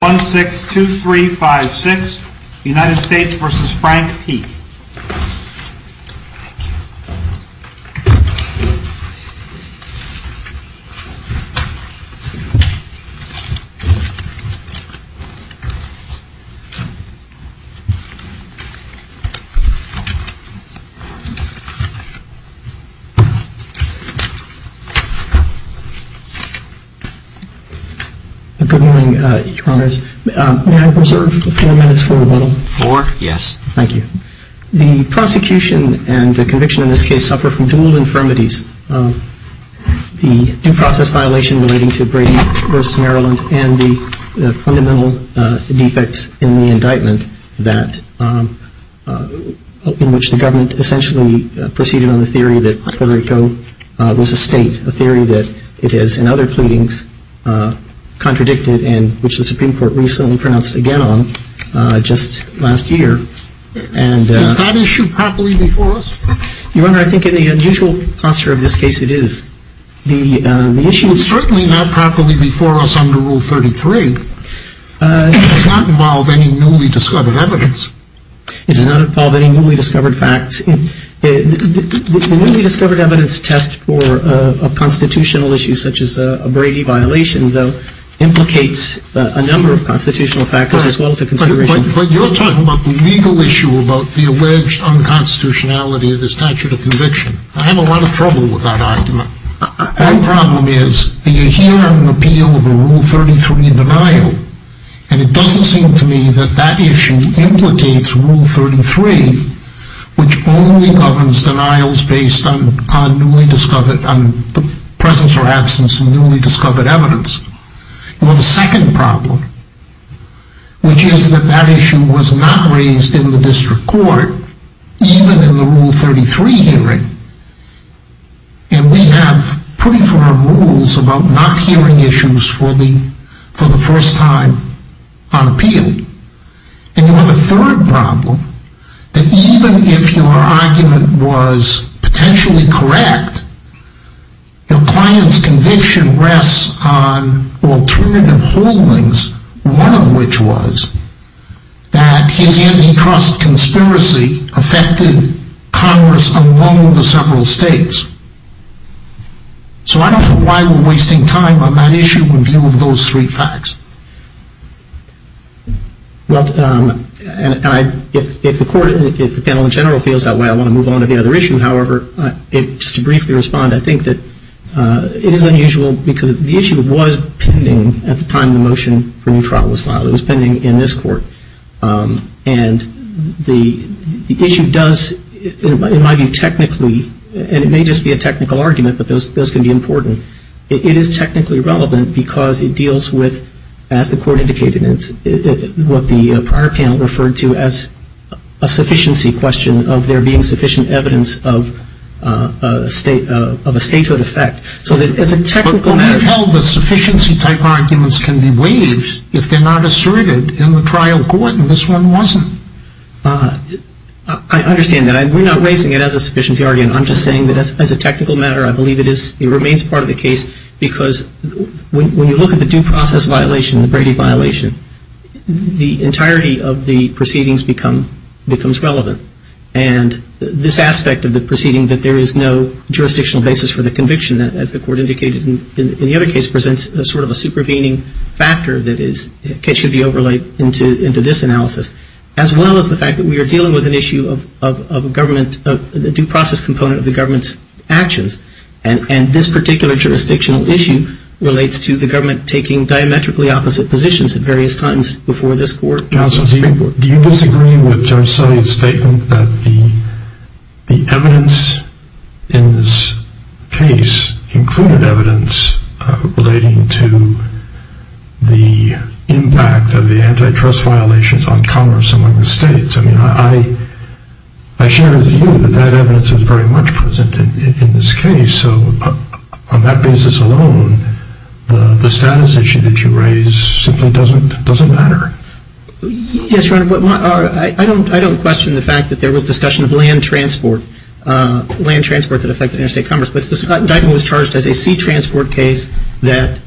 1, 6, 2, 3, 5, 6, United States v. Frank Peake 1, 6, 2, 3, 5, 6, 2, 3, The prosecution and the conviction in this case suffer from dual infirmities. The due process violation relating to Brady v. Maryland and the fundamental defects in the indictment that... In which the government essentially proceeded on the theory that Puerto Rico was a state. A theory that it is, in other pleadings, contradicted, and which the Supreme Court recently pronounced again on, just last year and... Is that issue properly before us? Your Honor, I think in the usual posture of this case it is. The issue... It's certainly not properly before us under Rule 33. It does not involve any newly discovered evidence. It does not involve any newly discovered facts. The newly discovered evidence test for a constitutional issue such as a Brady violation, though, implicates a number of constitutional factors, as well as a consideration... But you're talking about the legal issue about the alleged unconstitutionality of the statute of conviction. I have a lot of trouble with that argument. One problem is that you hear an appeal of a Rule 33 denial, and it doesn't seem to me that that issue implicates Rule 33, which only governs denials based on newly discovered... On the presence or absence of newly discovered evidence. You have a second problem, which is that that issue was not raised in the District Court, even in the Rule 33 hearing. And we have pretty firm rules about not hearing issues for the first time on appeal. And you have a third problem, that even if your argument was potentially correct, your client's conviction rests on alternative holdings, one of which was that his antitrust conspiracy affected Congress along the several states. So I don't know why we're wasting time on that issue in view of those three facts. Well, if the court, if the panel in general feels that way, I want to move on to the other issue. However, just to briefly respond, I think that it is unusual because the issue was pending at the time the motion for new trial was filed. It was pending in this Court. And the issue does, in my view, technically, and it may just be a technical argument, but those can be important. It is technically relevant because it deals with, as the Court indicated, what the prior panel referred to as a sufficiency question of there being sufficient evidence of a statehood effect. So that as a technical matter... But we've held that sufficiency type arguments can be waived if they're not asserted in the trial court, and this one wasn't. I understand that. We're not raising it as a sufficiency argument. I'm just saying that as a technical matter, I believe it is, it remains part of the case because when you look at the due process violation, the Brady violation, the entirety of the proceedings becomes relevant. And this aspect of the proceeding, that there is no jurisdictional basis for the conviction, as the Court indicated in the other case, presents sort of a supervening factor that should be overlaid into this analysis, as well as the fact that we are dealing with an issue of government, a due process component of the government's actions. And this particular jurisdictional issue relates to the government taking diametrically opposite positions at various times before this Court. Counsel, do you disagree with Judge Sully's statement that the evidence in this case included evidence relating to the impact of the antitrust violations on commerce among the states? I mean, I share the view that that evidence is very much present in this case. So on that basis alone, the status issue that you raise simply doesn't matter. Yes, Your Honor, I don't question the fact that there was discussion of land transport, land transport that affected interstate commerce. But this indictment was charged as a sea transport case that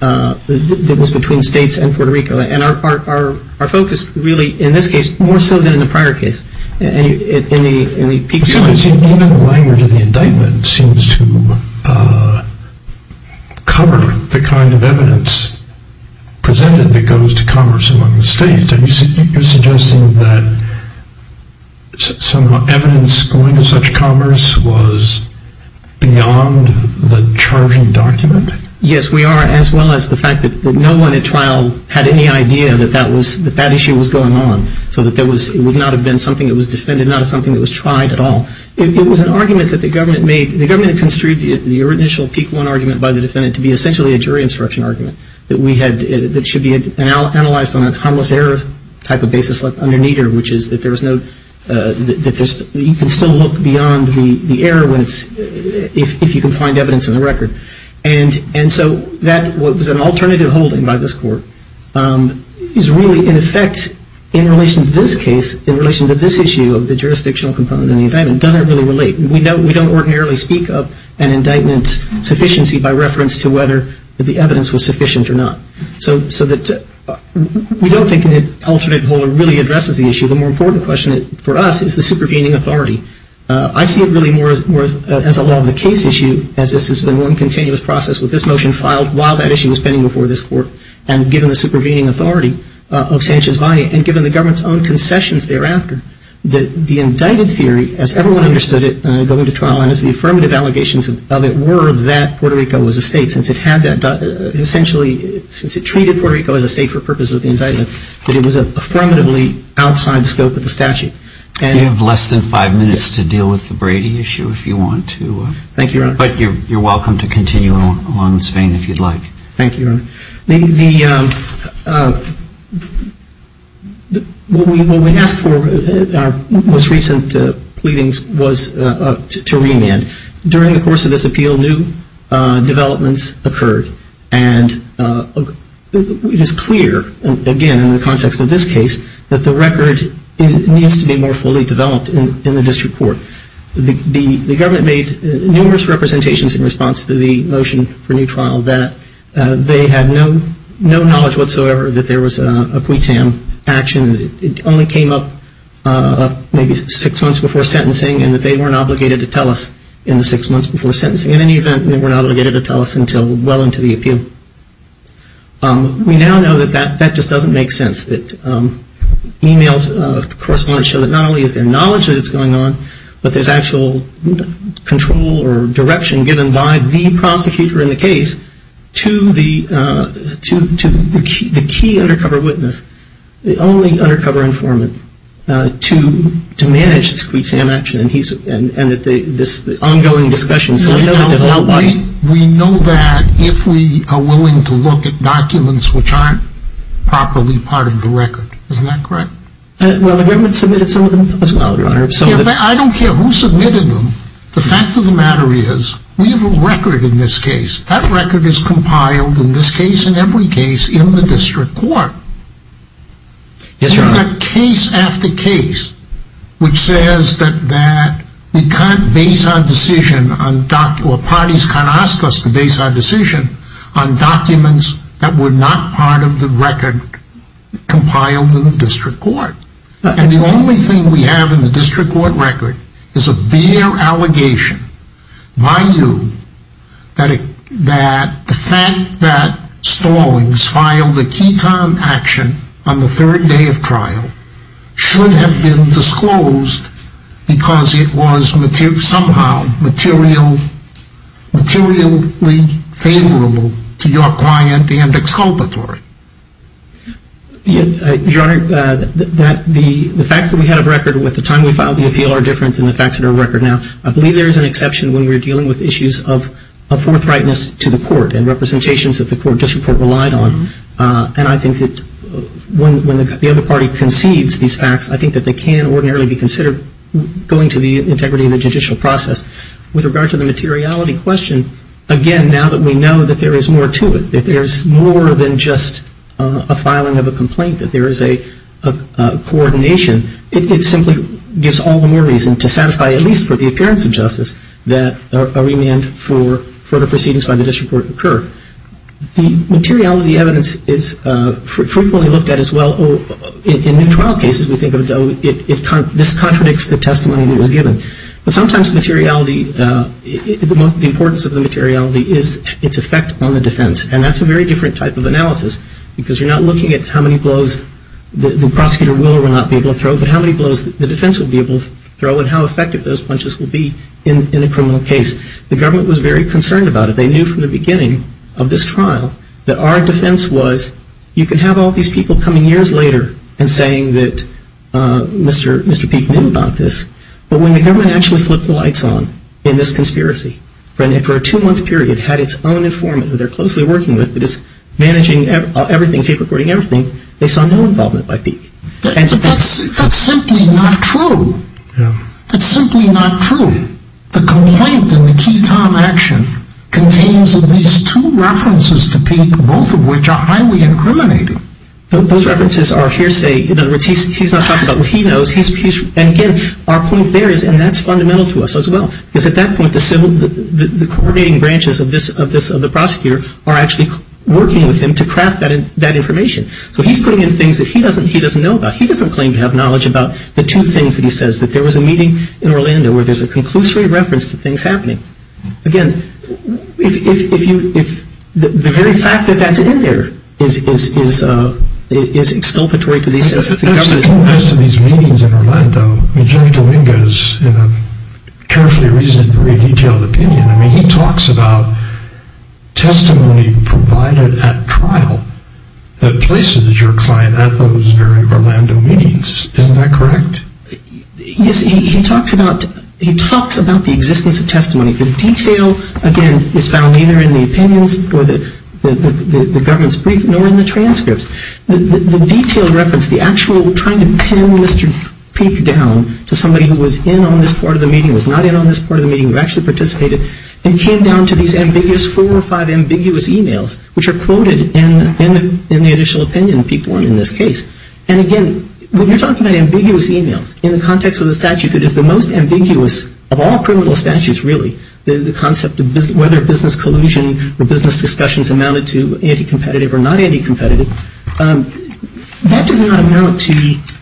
was between states and Puerto Rico. And our focus really, in this case, more so than in the prior case, in the peak period. Even the language of the indictment seems to cover the kind of evidence presented that goes to commerce among the states. And you're suggesting that some evidence going to such commerce was beyond the charging document? Yes, we are, as well as the fact that no one at trial had any idea that that issue was going on. So it would not have been something that was defended, not something that was tried at all. It was an argument that the government made. The government construed the initial Peak 1 argument by the defendant to be essentially a jury instruction argument that should be analyzed on a harmless error type of basis underneath it, which is that you can still look beyond the error if you can find evidence in the record. And so what was an alternative holding by this court is really, in effect, in relation to this case, in relation to this issue of the jurisdictional component of the indictment, doesn't really relate. We don't ordinarily speak of an indictment's sufficiency by reference to whether the evidence was sufficient or not. So we don't think an alternate holder really addresses the issue. The more important question for us is the supervening authority. I see it really more as a law of the case issue, as this has been one continuous process with this motion filed while that issue was pending before this court, and given the supervening authority of Sanchez-Vani, and given the government's own concessions thereafter, that the indicted theory, as everyone understood it going to trial, and as the affirmative allegations of it were that Puerto Rico was a state, since it had that, essentially, since it treated Puerto Rico as a state for purposes of the indictment, that it was affirmatively outside the scope of the statute. You have less than five minutes to deal with the Brady issue, if you want to. Thank you, Your Honor. But you're welcome to continue along this vein, if you'd like. Thank you, Your Honor. The, what we asked for, our most recent pleadings was to remand. During the course of this appeal, new developments occurred. And it is clear, again, in the context of this case, that the record needs to be more fully developed in the district court. The government made numerous representations in response to the motion for new trial, that they had no knowledge whatsoever that there was a quitam action. It only came up maybe six months before sentencing, and that they weren't obligated to tell us in the six months before sentencing. In any event, they were not obligated to tell us until well into the appeal. We now know that that just doesn't make sense. That e-mails, of course, want to show that not only is there knowledge that it's going on, but there's actual control or direction given by the prosecutor in the case to the key undercover witness, the only undercover informant, to manage this quitam action. And he's, and this ongoing discussion, so we know that there's a lot of money. We know that if we are willing to look at documents which aren't properly part of the record. Isn't that correct? Well, the government submitted some of them as well, Your Honor. Yeah, but I don't care who submitted them. The fact of the matter is, we have a record in this case. That record is compiled, in this case and every case, in the district court. Yes, Your Honor. We have got case after case, which says that we can't base our decision on documents, or parties can't ask us to base our decision on documents that were not part of the record compiled in the district court. And the only thing we have in the district court record is a bare allegation by you that the fact that Stallings filed a quitam action on the third day of trial should have been disclosed because it was somehow materially favorable to your client and exculpatory. Your Honor, the facts that we had of record at the time we filed the appeal are different than the facts that are on record now. I believe there is an exception when we are dealing with issues of forthrightness to the court and representations that the district court relied on. And I think that when the other party concedes these facts, I think that they can ordinarily be considered going to the integrity of the judicial process. With regard to the materiality question, again, now that we know that there is more to it, that there is more than just a filing of a complaint, that there is a coordination, it simply gives all the more reason to satisfy at least for the appearance of justice that a remand for the proceedings by the district court occur. The materiality evidence is frequently looked at as well in new trial cases. We think this contradicts the testimony that was given. But sometimes the materiality, the importance of the materiality is its effect on the defense. And that's a very different type of analysis because you're not looking at how many blows the prosecutor will not be able to throw, but how many blows the defense will be able to throw and how effective those punches will be in a criminal case. The government was very concerned about it. They knew from the beginning of this trial that our defense was you can have all these people coming years later and saying that Mr. Peek knew about this. But when the government actually flipped the lights on in this conspiracy, and for a two-month period had its own informant who they're closely working with, managing everything, tape recording everything, they saw no involvement by Peek. But that's simply not true. That's simply not true. The complaint in the Key Tom action contains at least two references to Peek, both of which are highly incriminating. Those references are hearsay. In other words, he's not talking about what he knows. And again, our point there is, and that's fundamental to us as well, is at that point the coordinating branches of the prosecutor are actually working with him to craft that information. So he's putting in things that he doesn't know about. He doesn't claim to have knowledge about the two things that he says, that there was a meeting in Orlando where there's a conclusory reference to things happening. Again, the very fact that that's in there is exculpatory to the sense that the government is not. In the rest of these meetings in Orlando, I mean, Jerry Dominguez, in a carefully reasoned, very detailed opinion, I mean, he talks about testimony provided at trial that places your client at those very Orlando meetings. Isn't that correct? Yes, he talks about the existence of testimony. The detail, again, is found neither in the opinions or the government's brief nor in the transcripts. The detailed reference, the actual trying to pin Mr. Peek down to somebody who was in on this part of the meeting, was not in on this part of the meeting, who actually participated, and came down to these ambiguous, four or five ambiguous e-mails, which are quoted in the initial opinion, Peek 1 in this case. And again, when you're talking about ambiguous e-mails, in the context of the statute that is the most ambiguous of all criminal statutes, really, the concept of whether business collusion or business discussions amounted to anti-competitive or not anti-competitive, that does not amount to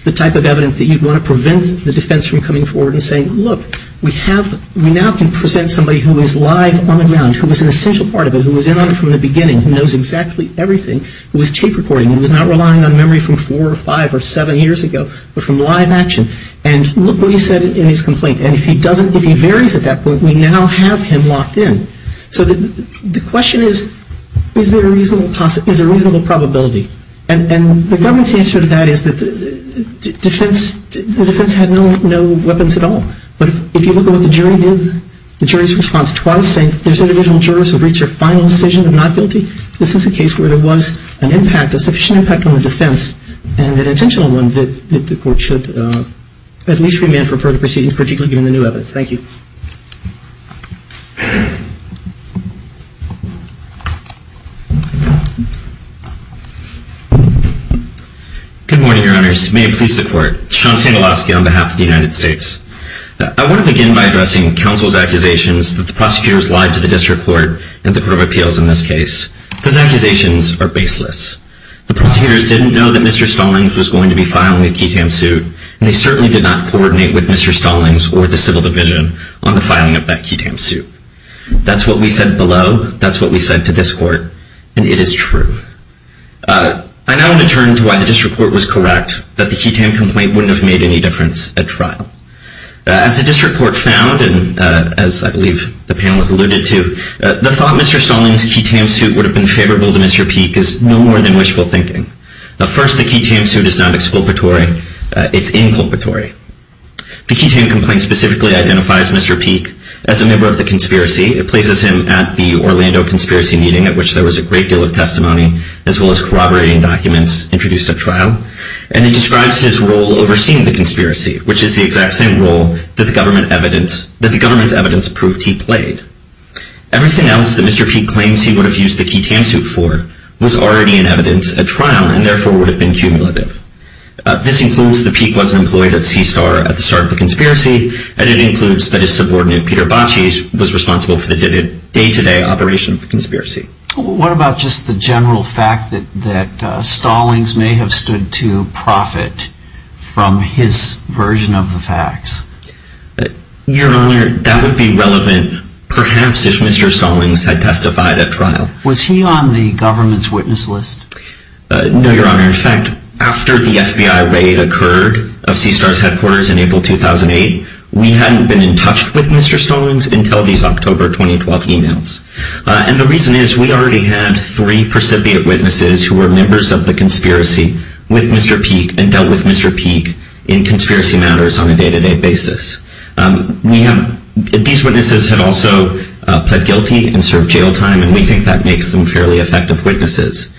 the type of evidence that you'd want to prevent the defense from coming forward and saying, look, we have, we now can present somebody who is live on the ground, who was an essential part of it, who was in on it from the beginning, who knows exactly everything, who was tape recording, who was not relying on memory from four or five or seven years ago, but from live action. And look what he said in his complaint. And if he doesn't, if he varies at that point, we now have him locked in. So the question is, is there a reasonable possibility, is there a reasonable probability? And the government's answer to that is that the defense had no weapons at all. But if you look at what the jury did, the jury's response was saying, there's individual jurors who have reached their final decision of not guilty. This is a case where there was an impact, a sufficient impact on the defense, and an intentional one that the court should at least remand for further proceedings, particularly given the new evidence. Thank you. Good morning, Your Honors. May I please support? Sean Stankowski on behalf of the United States. I want to begin by addressing counsel's accusations that the prosecutors lied to the district court and the court of appeals in this case. Those accusations are baseless. The prosecutors didn't know that Mr. Stallings was going to be filed in the Ketam suit, and they certainly did not coordinate with Mr. Stallings or the civil division on the filing of that Ketam suit. That's what we said below, that's what we said to this court, and it is true. I now want to turn to why the district court was correct that the Ketam complaint wouldn't have made any difference at trial. As the district court found, and as I believe the panel has alluded to, the thought Mr. Stallings' Ketam suit would have been favorable to Mr. Peek is no more than wishful thinking. First, the Ketam suit is not exculpatory. It's inculpatory. The Ketam complaint specifically identifies Mr. Peek as a member of the conspiracy. It places him at the Orlando conspiracy meeting, at which there was a great deal of testimony, as well as corroborating documents introduced at trial, and it describes his role overseeing the conspiracy, which is the exact same role that the government's evidence proved he played. Everything else that Mr. Peek claims he would have used the Ketam suit for was already in evidence at trial and therefore would have been cumulative. This includes that Peek wasn't employed at CSTAR at the start of the conspiracy, and it includes that his subordinate, Peter Bacis, was responsible for the day-to-day operation of the conspiracy. What about just the general fact that Stallings may have stood to profit from his version of the facts? Your Honor, that would be relevant perhaps if Mr. Stallings had testified at trial. Was he on the government's witness list? No, Your Honor. In fact, after the FBI raid occurred of CSTAR's headquarters in April 2008, we hadn't been in touch with Mr. Stallings until these October 2012 emails. And the reason is we already had three precipitate witnesses who were members of the conspiracy with Mr. Peek and dealt with Mr. Peek in conspiracy matters on a day-to-day basis. These witnesses had also pled guilty and served jail time, and we think that makes them fairly effective witnesses.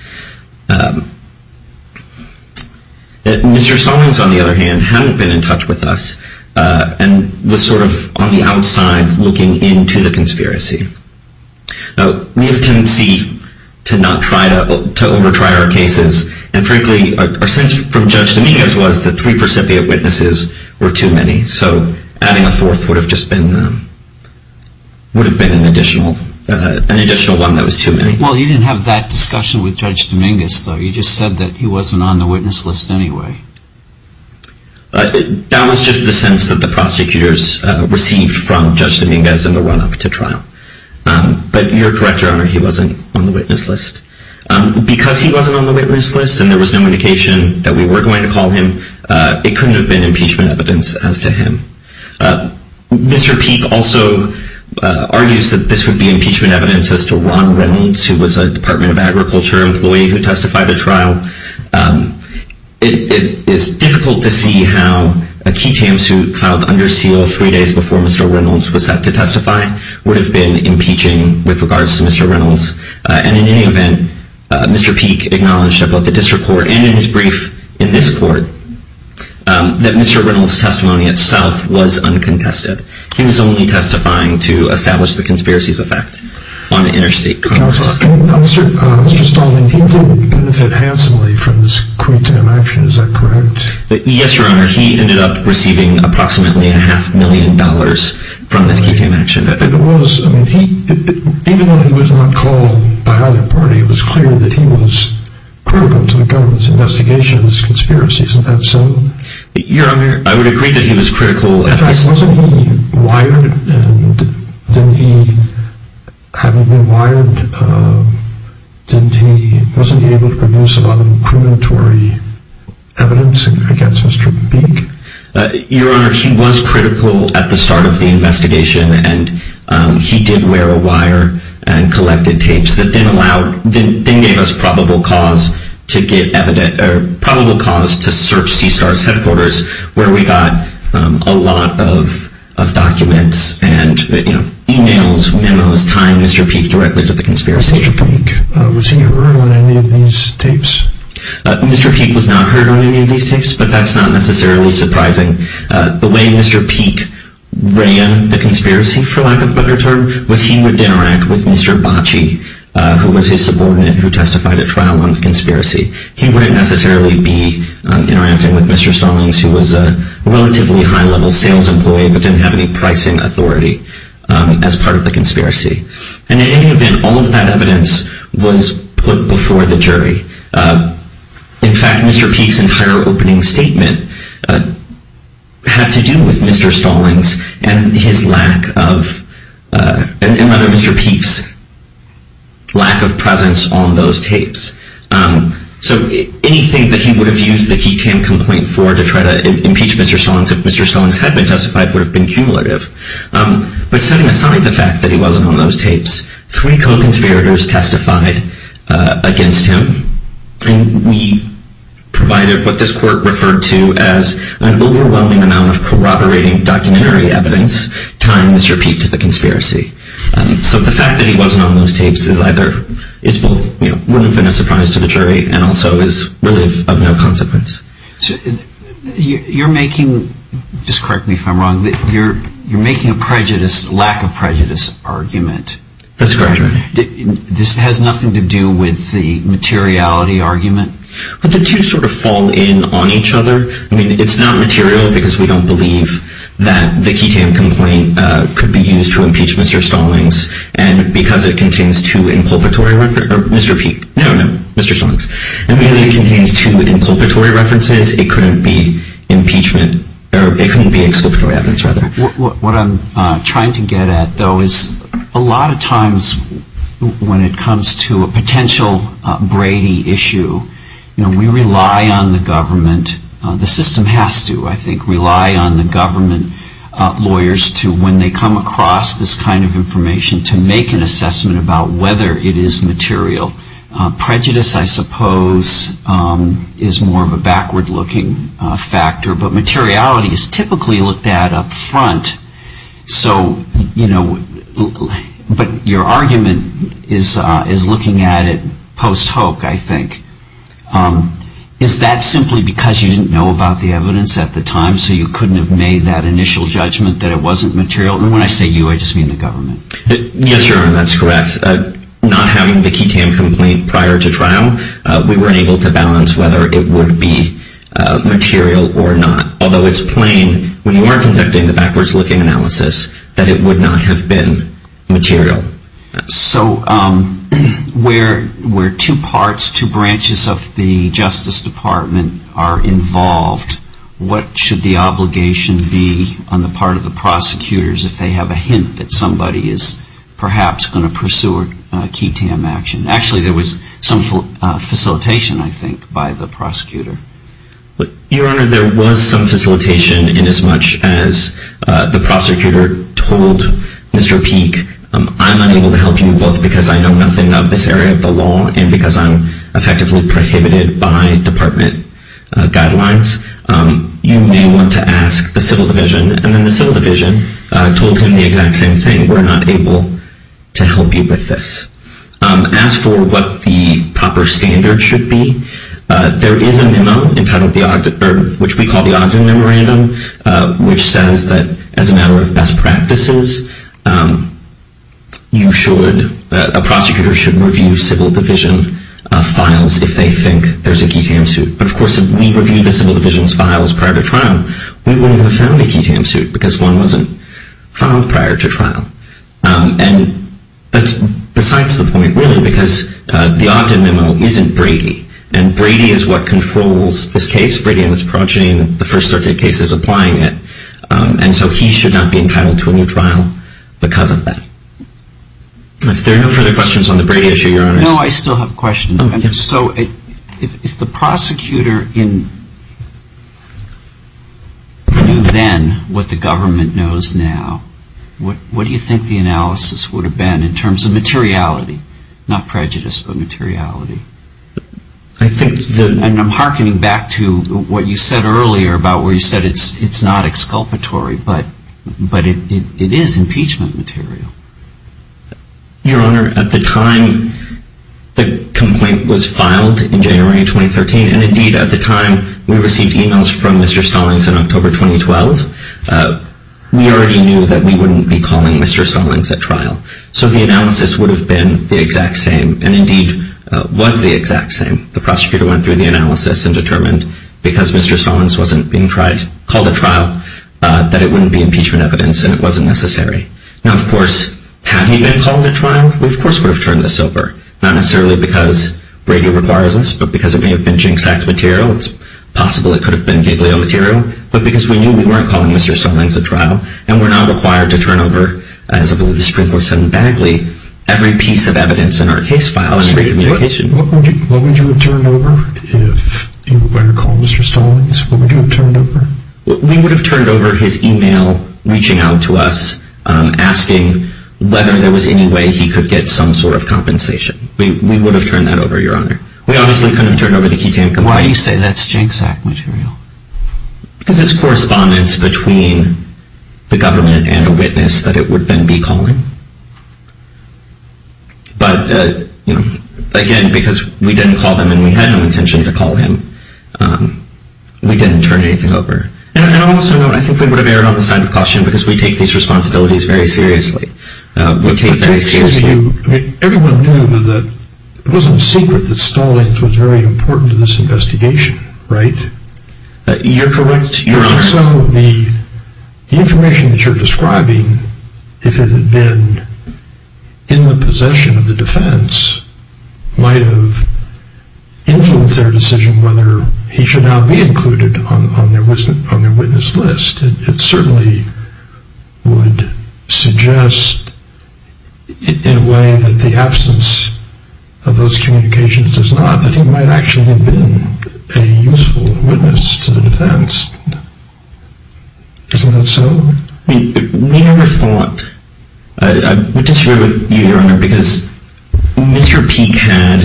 Mr. Stallings, on the other hand, hadn't been in touch with us and was sort of on the outside looking into the conspiracy. Now, we have a tendency to not try to overtry our cases, and frankly, our sense from Judge Dominguez was that three precipitate witnesses were too many. So adding a fourth would have been an additional one that was too many. Well, you didn't have that discussion with Judge Dominguez, though. You just said that he wasn't on the witness list anyway. That was just the sense that the prosecutors received from Judge Dominguez in the run-up to trial. But you're correct, Your Honor, he wasn't on the witness list. Because he wasn't on the witness list and there was no indication that we were going to call him, it couldn't have been impeachment evidence as to him. Mr. Peek also argues that this would be impeachment evidence as to Ron Reynolds, who was a Department of Agriculture employee who testified at trial. It is difficult to see how a key tamsuit filed under seal three days before Mr. Reynolds was set to testify would have been impeaching with regards to Mr. Reynolds. And in any event, Mr. Peek acknowledged at both the district court and in his brief in this court that Mr. Reynolds' testimony itself was uncontested. He was only testifying to establish the conspiracy's effect on interstate commerce. Counselor, Mr. Stalding, he didn't benefit handsomely from this key tam action, is that correct? Yes, Your Honor, he ended up receiving approximately a half million dollars from this key tam action. It was, I mean, even though he was not called by either party, it was clear that he was critical to the government's investigation of this conspiracy. Isn't that so? Your Honor, I would agree that he was critical. In fact, wasn't he wired? And didn't he, having been wired, wasn't he able to produce a lot of incriminatory evidence against Mr. Peek? Your Honor, he was critical at the start of the investigation, and he did wear a wire and collected tapes that then allowed, then gave us probable cause to get evident, or probable cause to search CSTAR's headquarters, where we got a lot of documents and, you know, e-mails, memos, tying Mr. Peek directly to the conspiracy. Was Mr. Peek, was he heard on any of these tapes? Mr. Peek was not heard on any of these tapes, but that's not necessarily surprising. The way Mr. Peek ran the conspiracy, for lack of a better term, was he would interact with Mr. Bacci, who was his subordinate who testified at trial on the conspiracy. He wouldn't necessarily be interacting with Mr. Stallings, who was a relatively high-level sales employee, but didn't have any pricing authority as part of the conspiracy. And in any event, all of that evidence was put before the jury. In fact, Mr. Peek's entire opening statement had to do with Mr. Stallings and his lack of, and rather Mr. Peek's, lack of presence on those tapes. So anything that he would have used the Keaton complaint for to try to impeach Mr. Stallings if Mr. Stallings had been testified would have been cumulative. But setting aside the fact that he wasn't on those tapes, three co-conspirators testified against him, and we provided what this court referred to as an overwhelming amount of corroborating documentary evidence tying Mr. Peek to the conspiracy. So the fact that he wasn't on those tapes is either, is both wouldn't have been a surprise to the jury, and also is really of no consequence. You're making, just correct me if I'm wrong, you're making a prejudice, lack of prejudice argument. That's correct. This has nothing to do with the materiality argument? But the two sort of fall in on each other. I mean, it's not material because we don't believe that the Keaton complaint could be used to impeach Mr. Stallings, and because it contains two inculpatory, Mr. Peek, no, no, Mr. Stallings, and because it contains two inculpatory references, it couldn't be impeachment, or it couldn't be exculpatory evidence, rather. What I'm trying to get at, though, is a lot of times when it comes to a potential Brady issue, you know, we rely on the government, the system has to, I think, rely on the government lawyers to, when they come across this kind of information, to make an assessment about whether it is material. Prejudice, I suppose, is more of a backward-looking factor, but materiality is typically looked at up front, so, you know, but your argument is looking at it post-hoc, I think. Is that simply because you didn't know about the evidence at the time, so you couldn't have made that initial judgment that it wasn't material? And when I say you, I just mean the government. Yes, Your Honor, that's correct. With not having the QI-TAM complaint prior to trial, we weren't able to balance whether it would be material or not, although it's plain when you are conducting the backwards-looking analysis that it would not have been material. So where two parts, two branches of the Justice Department are involved, what should the obligation be on the part of the prosecutors if they have a hint that somebody is perhaps going to pursue a QI-TAM action? Actually, there was some facilitation, I think, by the prosecutor. Your Honor, there was some facilitation inasmuch as the prosecutor told Mr. Peek, I'm unable to help you both because I know nothing of this area of the law and because I'm effectively prohibited by department guidelines. You may want to ask the Civil Division, and then the Civil Division told him the exact same thing. We're not able to help you with this. As for what the proper standard should be, there is a memo which we call the Ogden Memorandum, which says that as a matter of best practices, a prosecutor should review Civil Division files if they think there's a QI-TAM suit. But of course, if we reviewed the Civil Division's files prior to trial, we wouldn't have found a QI-TAM suit because one wasn't found prior to trial. And that's besides the point, really, because the Ogden memo isn't Brady, and Brady is what controls this case. Brady was approaching the First Circuit cases applying it, and so he should not be entitled to a new trial because of that. If there are no further questions on the Brady issue, Your Honor. No, I still have a question. So if the prosecutor knew then what the government knows now, what do you think the analysis would have been in terms of materiality? Not prejudice, but materiality. I'm hearkening back to what you said earlier about where you said it's not exculpatory, but it is impeachment material. Your Honor, at the time the complaint was filed in January 2013, and indeed at the time we received emails from Mr. Stallings in October 2012, we already knew that we wouldn't be calling Mr. Stallings at trial. So the analysis would have been the exact same, and indeed was the exact same. The prosecutor went through the analysis and determined, because Mr. Stallings wasn't being called at trial, that it wouldn't be impeachment evidence and it wasn't necessary. Now, of course, had he been called at trial, we of course would have turned this over, not necessarily because Brady requires this, but because it may have been jinx act material, it's possible it could have been giglio material, but because we knew we weren't calling Mr. Stallings at trial and we're not required to turn over, as I believe the Supreme Court said in Bagley, every piece of evidence in our case file and every communication. What would you have turned over if you were to call Mr. Stallings? What would you have turned over? We would have turned over his email reaching out to us, asking whether there was any way he could get some sort of compensation. We would have turned that over, Your Honor. We obviously couldn't have turned over the key to him. Why do you say that's jinx act material? Because it's correspondence between the government and a witness that it would then be calling. But again, because we didn't call them and we had no intention to call him, we didn't turn anything over. And also, I think we would have erred on the side of caution because we take these responsibilities very seriously. Everyone knew that it wasn't secret that Stallings was very important to this investigation, right? You're correct, Your Honor. But also, the information that you're describing, if it had been in the possession of the defense, might have influenced their decision whether he should now be included on their witness list. It certainly would suggest in a way that the absence of those communications does not, that he might actually have been a useful witness to the defense. Isn't that so? I mean, we never thought. I disagree with you, Your Honor, because Mr. Peek had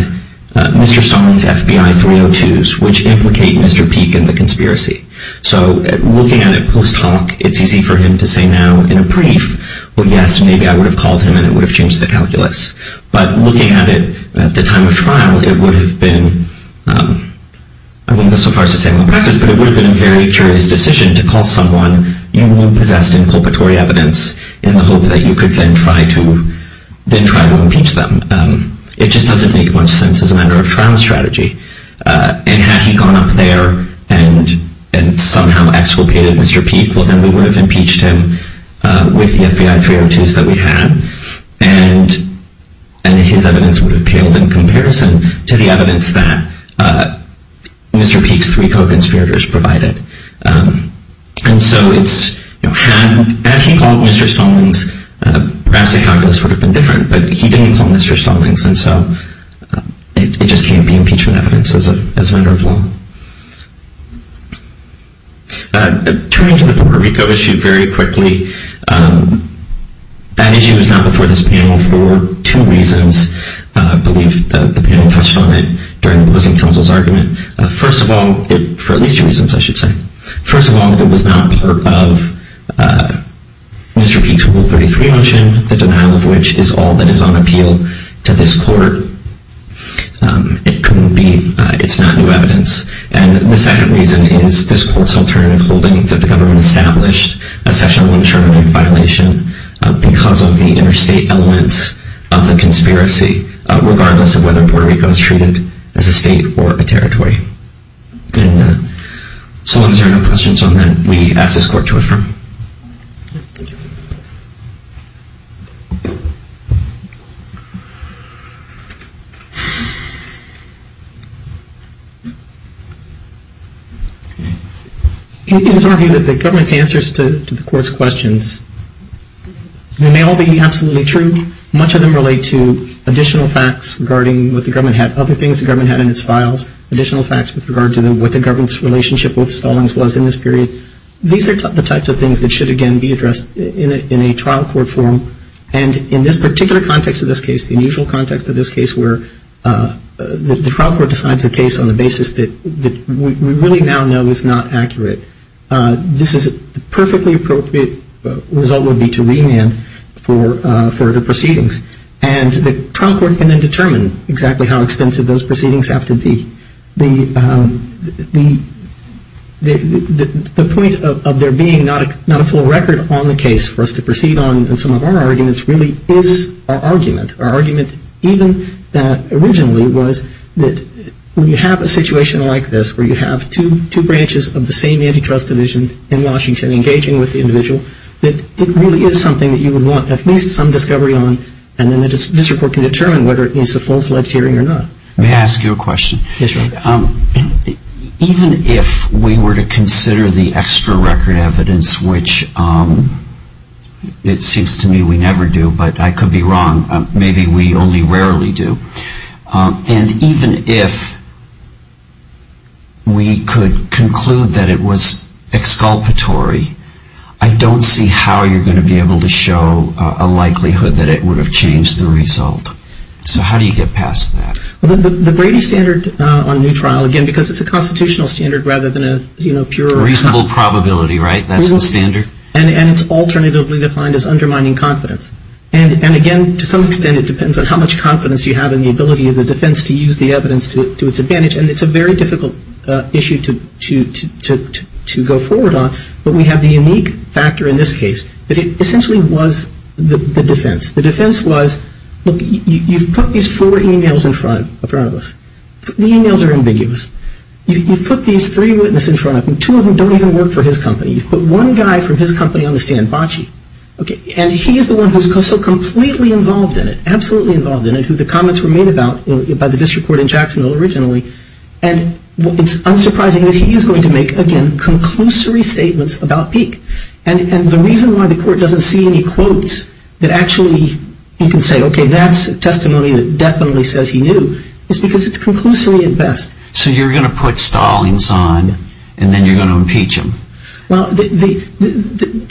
Mr. Stallings' FBI 302s, which implicate Mr. Peek in the conspiracy. So looking at it post hoc, it's easy for him to say now in a brief, well, yes, maybe I would have called him and it would have changed the calculus. But looking at it at the time of trial, it would have been, I wouldn't go so far as to say malpractice, but it would have been a very curious decision to call someone you knew possessed in culpatory evidence in the hope that you could then try to impeach them. It just doesn't make much sense as a matter of trial strategy. And had he gone up there and somehow exculpated Mr. Peek, well, then we would have impeached him with the FBI 302s that we had. And his evidence would have paled in comparison to the evidence that Mr. Peek's three co-conspirators provided. And so it's, had he called Mr. Stallings, perhaps the calculus would have been different. But he didn't call Mr. Stallings, and so it just can't be impeachment evidence as a matter of law. Turning to the Puerto Rico issue very quickly, that issue was not before this panel for two reasons. I believe the panel touched on it during opposing counsel's argument. First of all, for at least two reasons, I should say. First of all, it was not part of Mr. Peek's Rule 33 motion, the denial of which is all that is on appeal to this court. It couldn't be, it's not new evidence. And the second reason is this court's alternative holding that the government established a section 119 violation because of the interstate elements of the conspiracy, regardless of whether Puerto Rico is treated as a state or a territory. And so once there are no questions on that, we ask this court to affirm. Thank you. In some review of the government's answers to the court's questions, they may all be absolutely true. Much of them relate to additional facts regarding what the government had, other things the government had in its files, additional facts with regard to what the government's relationship with Stallings was in this period. These are the types of things that should, again, be addressed in a trial court form. And in this particular context of this case, the unusual context of this case, where the trial court decides a case on the basis that we really now know is not accurate, this is a perfectly appropriate result would be to remand for further proceedings. And the trial court can then determine exactly how extensive those proceedings have to be. The point of there being not a full record on the case for us to proceed on in some of our arguments really is our argument. Our argument even originally was that when you have a situation like this, where you have two branches of the same antitrust division in Washington engaging with the individual, that it really is something that you would want at least some discovery on, and then this report can determine whether it needs a full-fledged hearing or not. May I ask you a question? Even if we were to consider the extra record evidence, which it seems to me we never do, but I could be wrong, maybe we only rarely do, and even if we could conclude that it was exculpatory, I don't see how you're going to be able to show a likelihood that it would have changed the result. So how do you get past that? The Brady standard on a new trial, again, because it's a constitutional standard rather than a pure... Reasonable probability, right? That's the standard? And it's alternatively defined as undermining confidence. And again, to some extent it depends on how much confidence you have in the ability of the defense to use the evidence to its advantage, and it's a very difficult issue to go forward on. But we have the unique factor in this case that it essentially was the defense. The defense was, look, you've put these four e-mails in front of us. The e-mails are ambiguous. You've put these three witnesses in front of them. Two of them don't even work for his company. You've put one guy from his company on the stand, Bacci, and he is the one who is so completely involved in it, absolutely involved in it, who the comments were made about by the district court in Jacksonville originally, and it's unsurprising that he is going to make, again, conclusory statements about Peek. And the reason why the court doesn't see any quotes that actually you can say, okay, that's testimony that definitely says he knew, is because it's conclusory at best. So you're going to put Stallings on, and then you're going to impeach him. Well, the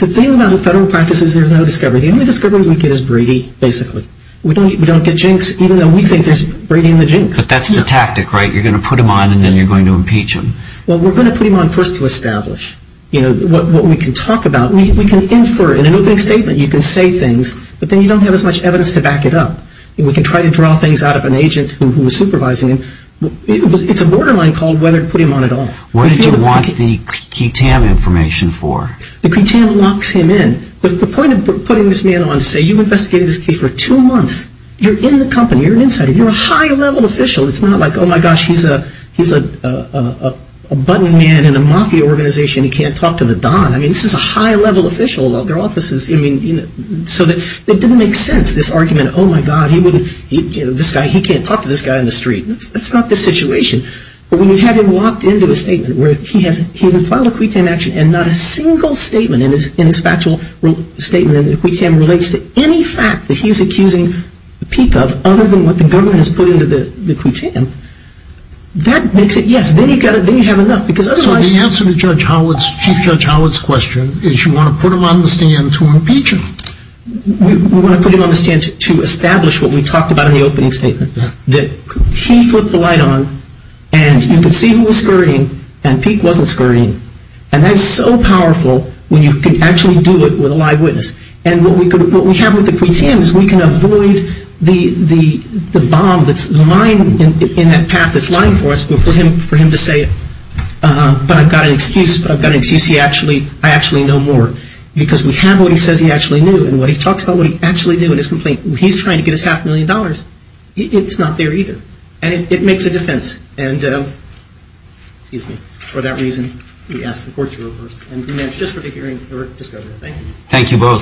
thing about the federal practice is there's no discovery. The only discovery we get is Brady, basically. We don't get Jinx, even though we think there's Brady in the Jinx. But that's the tactic, right? You're going to put him on, and then you're going to impeach him. Well, we're going to put him on first to establish what we can talk about. We can infer in an opening statement. You can say things, but then you don't have as much evidence to back it up. We can try to draw things out of an agent who was supervising him. It's a borderline call whether to put him on at all. What did you want the QTAM information for? The QTAM locks him in. But the point of putting this man on to say you've investigated this case for two months, you're in the company, you're an insider, you're a high-level official. It's not like, oh, my gosh, he's a button man in a mafia organization. He can't talk to the Don. I mean, this is a high-level official. It didn't make sense, this argument. Oh, my God, he can't talk to this guy in the street. That's not the situation. But when you have him locked into a statement where he has filed a QTAM action and not a single statement in his factual statement in the QTAM relates to any fact that he's accusing Peek of other than what the government has put into the QTAM, that makes it, yes, then you have enough. So the answer to Chief Judge Howard's question is you want to put him on the stand to impeach him. We want to put him on the stand to establish what we talked about in the opening statement, that he flipped the light on and you could see who was scurrying and Peek wasn't scurrying. And that's so powerful when you can actually do it with a live witness. And what we have with the QTAM is we can avoid the bomb that's lying in that path that's lying for us for him to say, but I've got an excuse, but I've got an excuse, I actually know more. Because we have what he says he actually knew and what he talks about what he actually knew in his complaint. He's trying to get his half a million dollars. It's not there either. And it makes a defense. And, excuse me, for that reason, we ask the court to reverse. Thank you. Thank you both.